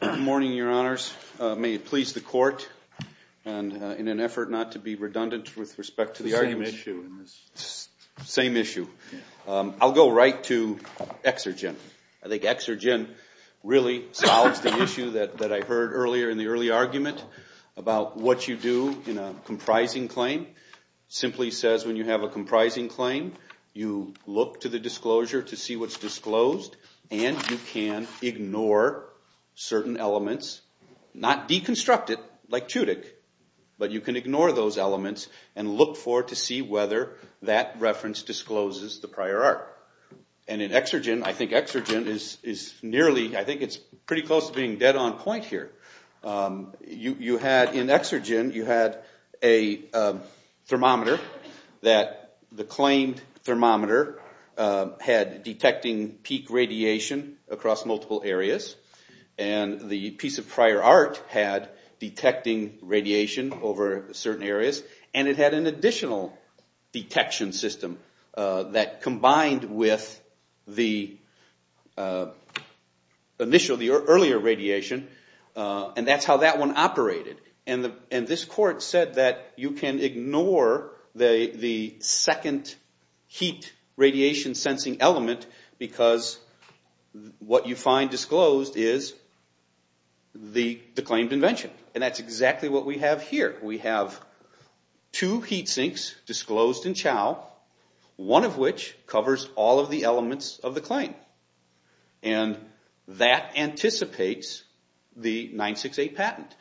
Good morning, Your Honors. May it please the Court, and in an effort not to be redundant with respect to the argument. Same issue. I'll go right to Exergen. I think Exergen really solves the issue that I heard earlier in the early argument about what you do in a comprising claim, simply says when you have a comprising claim, you look to the disclosure to see what's disclosed, and you can ignore certain elements, not deconstruct it like Tudyk, but you can ignore those elements and look for to see whether that reference discloses the prior art. And in Exergen, I think Exergen is nearly, I think it's pretty close to being dead on point here. You had, in Exergen, you had a thermometer that the claimed thermometer had detecting peak radiation across multiple areas, and the piece of prior art had detecting radiation over certain areas, and it had an additional detection system that combined with the earlier radiation, and that's how that one operated. And this Court said that you can ignore the second heat radiation sensing element because what you find disclosed is the claimed invention, and that's exactly what we have here. We have two heat sinks disclosed in Chao, one of which covers all of the elements of the claim, and that anticipates the 9-6-8 patent.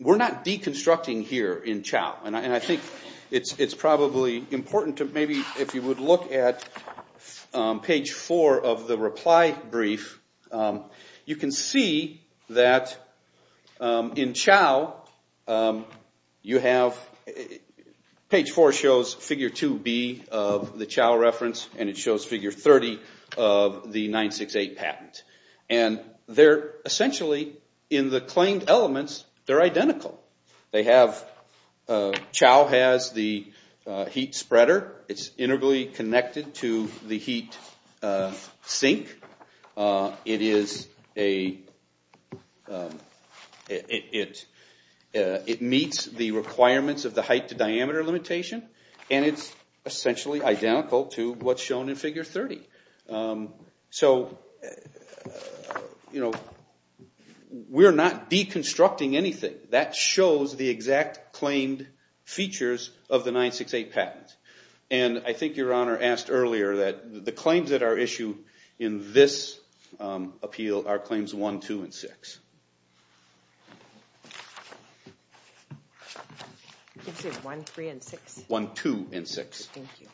We're not deconstructing here in Chao, and I think it's probably important to maybe, if you would look at page four of the reply brief, you can see that in Chao, you have page four shows figure 2B of the Chao reference, and it shows figure 30 of the 9-6-8 patent. And they're essentially, in the claimed elements, they're identical. They have, Chao has the heat spreader. It's integrally connected to the heat sink. It meets the requirements of the height to diameter limitation, and it's essentially identical to what's shown in figure 30. So we're not deconstructing anything. That shows the exact claimed features of the 9-6-8 patent. And I think Your Honor asked earlier that the claims that are issued in this appeal are claims 1, 2, and 6. I think it's 1, 3, and 6. 1, 2, and 6. Thank you.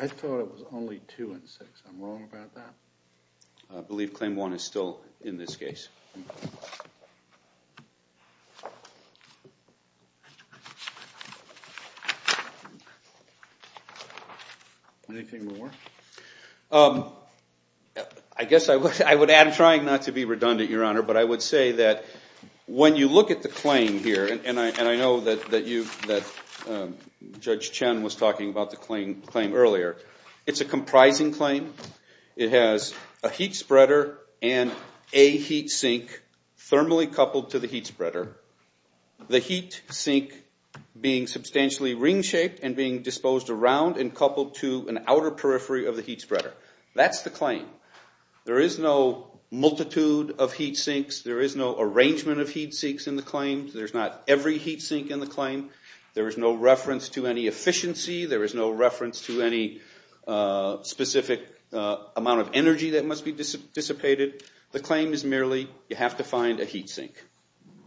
I thought it was only 2 and 6. I'm wrong about that? I believe claim 1 is still in this case. Thank you. Anything more? I guess I would add, I'm trying not to be redundant, Your Honor, but I would say that when you look at the claim here, and I know that Judge Chen was talking about the claim earlier, it's a comprising claim. It has a heat spreader and a heat sink thermally coupled to the heat spreader. The heat sink being substantially ring-shaped and being disposed around and coupled to an outer periphery of the heat spreader. That's the claim. There is no multitude of heat sinks. There is no arrangement of heat sinks in the claim. There's not every heat sink in the claim. There is no reference to any efficiency. There is no reference to any specific amount of energy that must be dissipated. The claim is merely, you have to find a heat sink.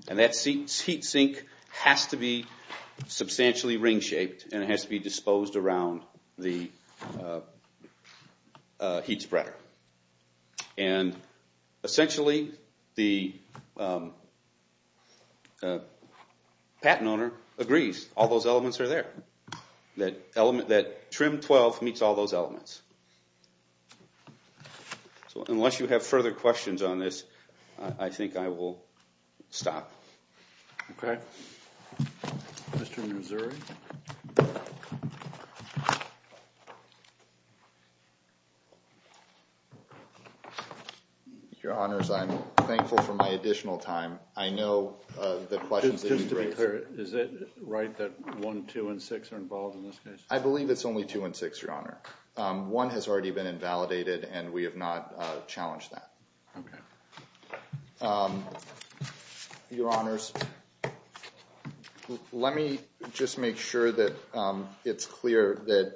And that heat sink has to be substantially ring-shaped, and it has to be disposed around the heat spreader. And essentially, the patent owner agrees. All those elements are there. That Trim 12 meets all those elements. So unless you have further questions on this, I think I will stop. OK. Mr. Missouri? Your Honors, I'm thankful for my additional time. I know the questions that you've raised. Is it right that 1, 2, and 6 are involved in this case? I believe it's only 2 and 6, Your Honor. 1 has already been invalidated, and we have not challenged that. Your Honors, let me just make sure that it's clear that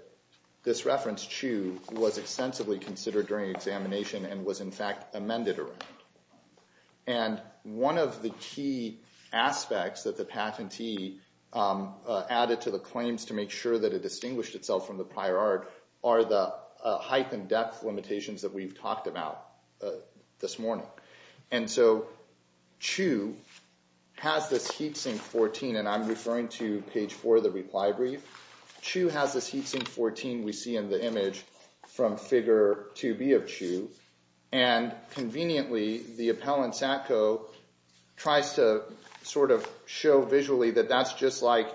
this reference, 2, was extensively considered during examination and was, in fact, amended around. And one of the key aspects that the patentee added to the claims to make sure that it distinguished itself from the prior art are the height and depth limitations that we've talked about this morning. And so Chu has this heat sink 14. And I'm referring to page 4 of the reply brief. Chu has this heat sink 14 we see in the image from figure 2B of Chu. And conveniently, the appellant, Satco, tries to sort of show visually that that's just like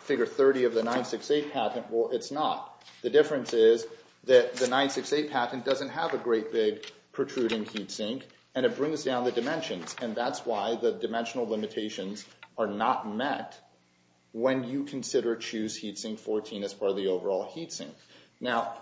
figure 30 of the 968 patent. Well, it's not. The difference is that the 968 patent doesn't have a great big protruding heat sink, and it brings down the dimensions. And that's why the dimensional limitations are not met when you consider Chu's heat sink 14 as part of the overall heat sink. Now,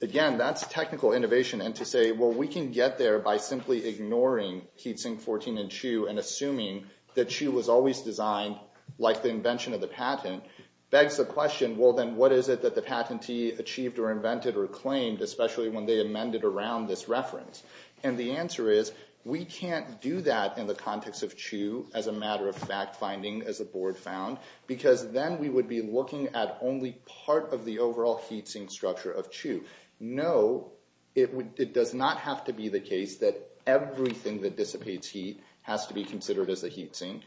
again, that's technical innovation. And to say, well, we can get there by simply ignoring heat sink 14 in Chu and assuming that Chu was always designed like the invention of the patent begs the question, well, then what is it that the patentee achieved or invented or claimed, especially when they amended around this reference? And the answer is, we can't do that in the context of Chu as a matter of fact finding, as the board found, because then we would be looking at only part of the overall heat sink structure of Chu. No, it does not have to be the case that everything that dissipates heat has to be considered as a heat sink.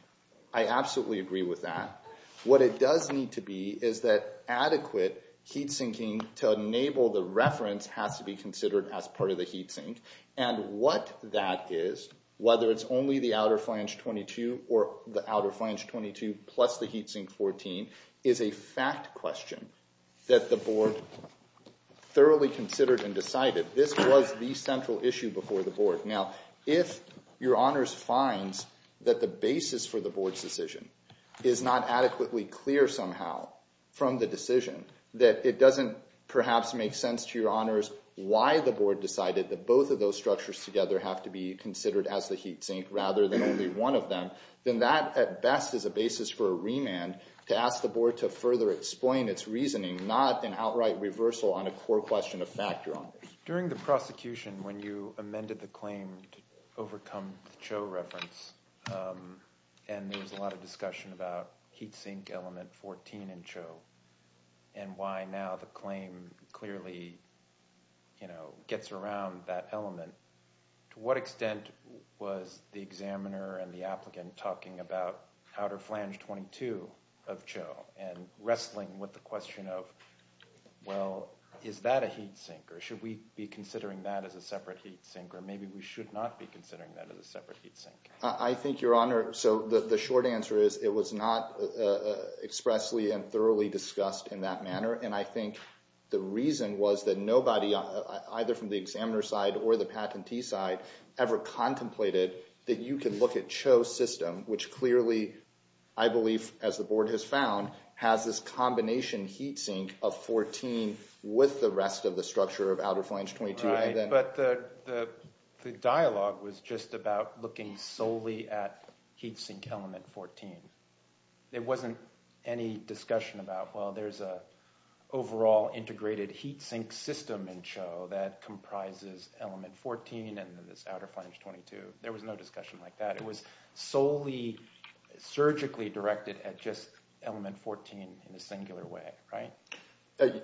I absolutely agree with that. What it does need to be is that adequate heat sinking to enable the reference has to be considered as part of the heat sink. And what that is, whether it's only the outer flange 22 or the outer flange 22 plus the heat sink 14, is a fact question that the board thoroughly considered and decided. This was the central issue before the board. Now, if your honors finds that the basis for the board's decision is not adequately clear somehow from the decision, that it doesn't perhaps make sense to your honors why the board decided that both of those structures together have to be considered as the heat sink rather than only one of them, then that, at best, is a basis for a remand to ask the board to further explain its reasoning, not an outright reversal on a core question of factor honors. During the prosecution, when you amended the claim to overcome the Cho reference, and there was a lot of discussion about heat sink element 14 in Cho, and why now the claim clearly gets around that element, to what extent was the examiner and the applicant talking about outer flange 22 of Cho and wrestling with the question of, well, is that a heat sink? Or should we be considering that as a separate heat sink? Or maybe we should not be considering that as a separate heat sink. I think, your honor, so the short answer is it was not expressly and thoroughly discussed in that manner. And I think the reason was that nobody, either from the examiner's side or the patentee's side, ever contemplated that you can look at Cho's system, which clearly, I believe, as the board has found, has this combination heat sink of 14 with the rest of the structure of outer flange 22. Right, but the dialogue was just about looking solely at heat sink element 14. There wasn't any discussion about, well, there's an overall integrated heat sink system in Cho that comprises element 14 and this outer flange 22. There was no discussion like that. It was solely surgically directed at just element 14 in a singular way, right?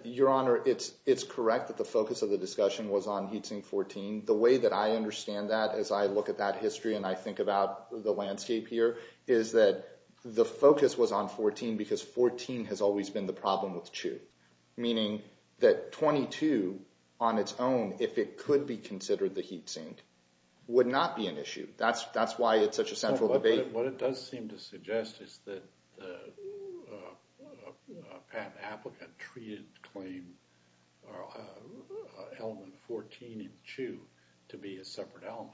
Your honor, it's correct that the focus of the discussion was on heat sink 14. The way that I understand that as I look at that history and I think about the landscape here is that the focus was on 14 because 14 has always been the problem with Cho, meaning that 22 on its own, if it could be considered the heat sink, would not be an issue. That's why it's such a central debate. What it does seem to suggest is that the patent applicant treated claim element 14 in Cho to be a separate element.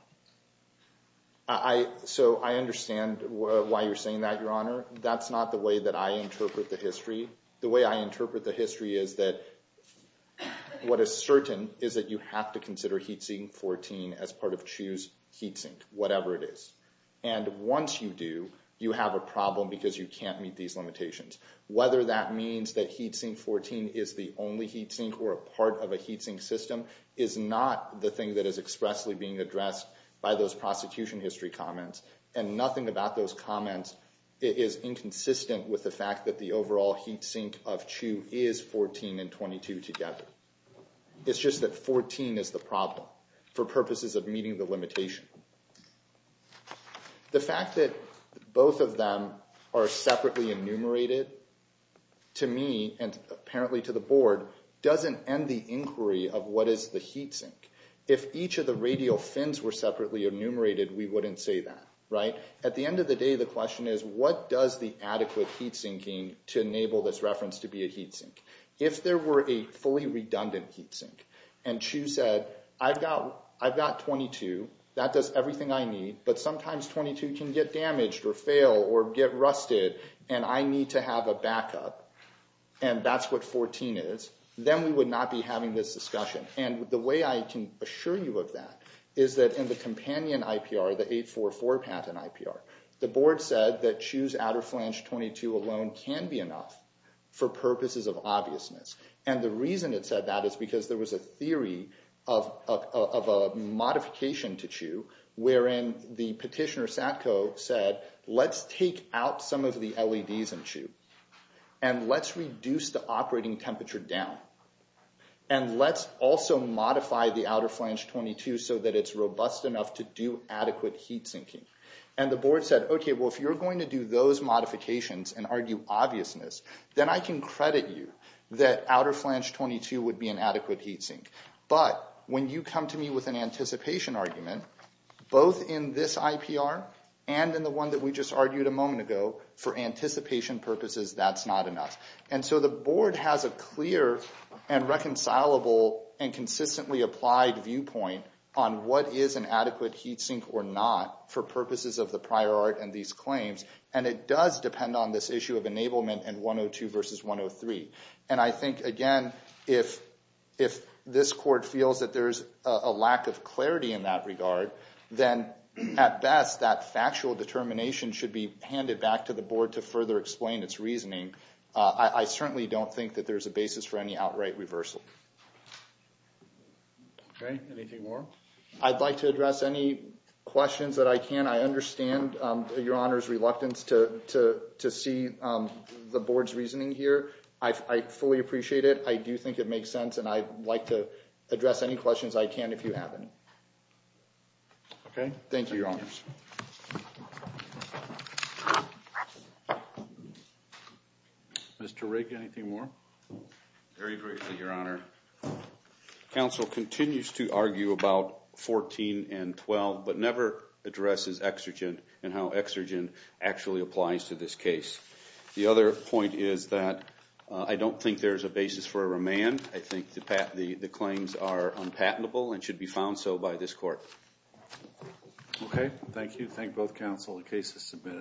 So I understand why you're saying that, your honor. That's not the way that I interpret the history. The way I interpret the history is that what is certain is that you have to consider heat sink 14 as part of Cho's heat sink, whatever it is. And once you do, you have a problem because you can't meet these limitations. Whether that means that heat sink 14 is the only heat sink or a part of a heat sink system is not the thing that is expressly being addressed by those prosecution history comments. And nothing about those comments is inconsistent with the fact that the overall heat sink of Cho is 14 and 22 together. It's just that 14 is the problem for purposes of meeting the limitation. The fact that both of them are separately enumerated, to me and apparently to the board, doesn't end the inquiry of what is the heat sink. If each of the radial fins were separately enumerated, we wouldn't say that, right? At the end of the day, the question is, what does the adequate heat sinking to enable this reference to be a heat sink? If there were a fully redundant heat sink and Cho said, I've got 22, that does everything I need, but sometimes 22 can get damaged or fail or get rusted and I need to have a backup and that's what 14 is, then we would not be having this discussion. And the way I can assure you of that is that in the companion IPR, the 844 patent IPR, the board said that Cho's outer flange 22 alone can be enough for purposes of obviousness. And the reason it said that is because there was a theory of a modification to Cho, wherein the petitioner Satco said, let's take out some of the LEDs in Cho and let's reduce the operating temperature down. And let's also modify the outer flange 22 so that it's robust enough to do adequate heat sinking. And the board said, OK, well, if you're going to do obviousness, then I can credit you that outer flange 22 would be an adequate heat sink. But when you come to me with an anticipation argument, both in this IPR and in the one that we just argued a moment ago, for anticipation purposes, that's not enough. And so the board has a clear and reconcilable and consistently applied viewpoint on what is an adequate heat sink or not for purposes of the prior art and these claims. And it does depend on this issue of enablement and 102 versus 103. And I think, again, if this court feels that there is a lack of clarity in that regard, then at best, that factual determination should be handed back to the board to further explain its reasoning. I certainly don't think that there is a basis for any outright reversal. OK. Anything more? I'd like to address any questions that I can. I understand Your Honor's reluctance to see the board's reasoning here. I fully appreciate it. I do think it makes sense. And I'd like to address any questions I can, if you have any. OK. Thank you, Your Honors. Mr. Rigg, anything more? Very briefly, Your Honor. Counsel continues to argue about 14 and 12, but never addresses exergent and how exergent actually applies to this case. The other point is that I don't think there is a basis for a remand. I think the claims are unpatentable and should be found so by this court. OK. Thank you. Thank both counsel. The case is submitted.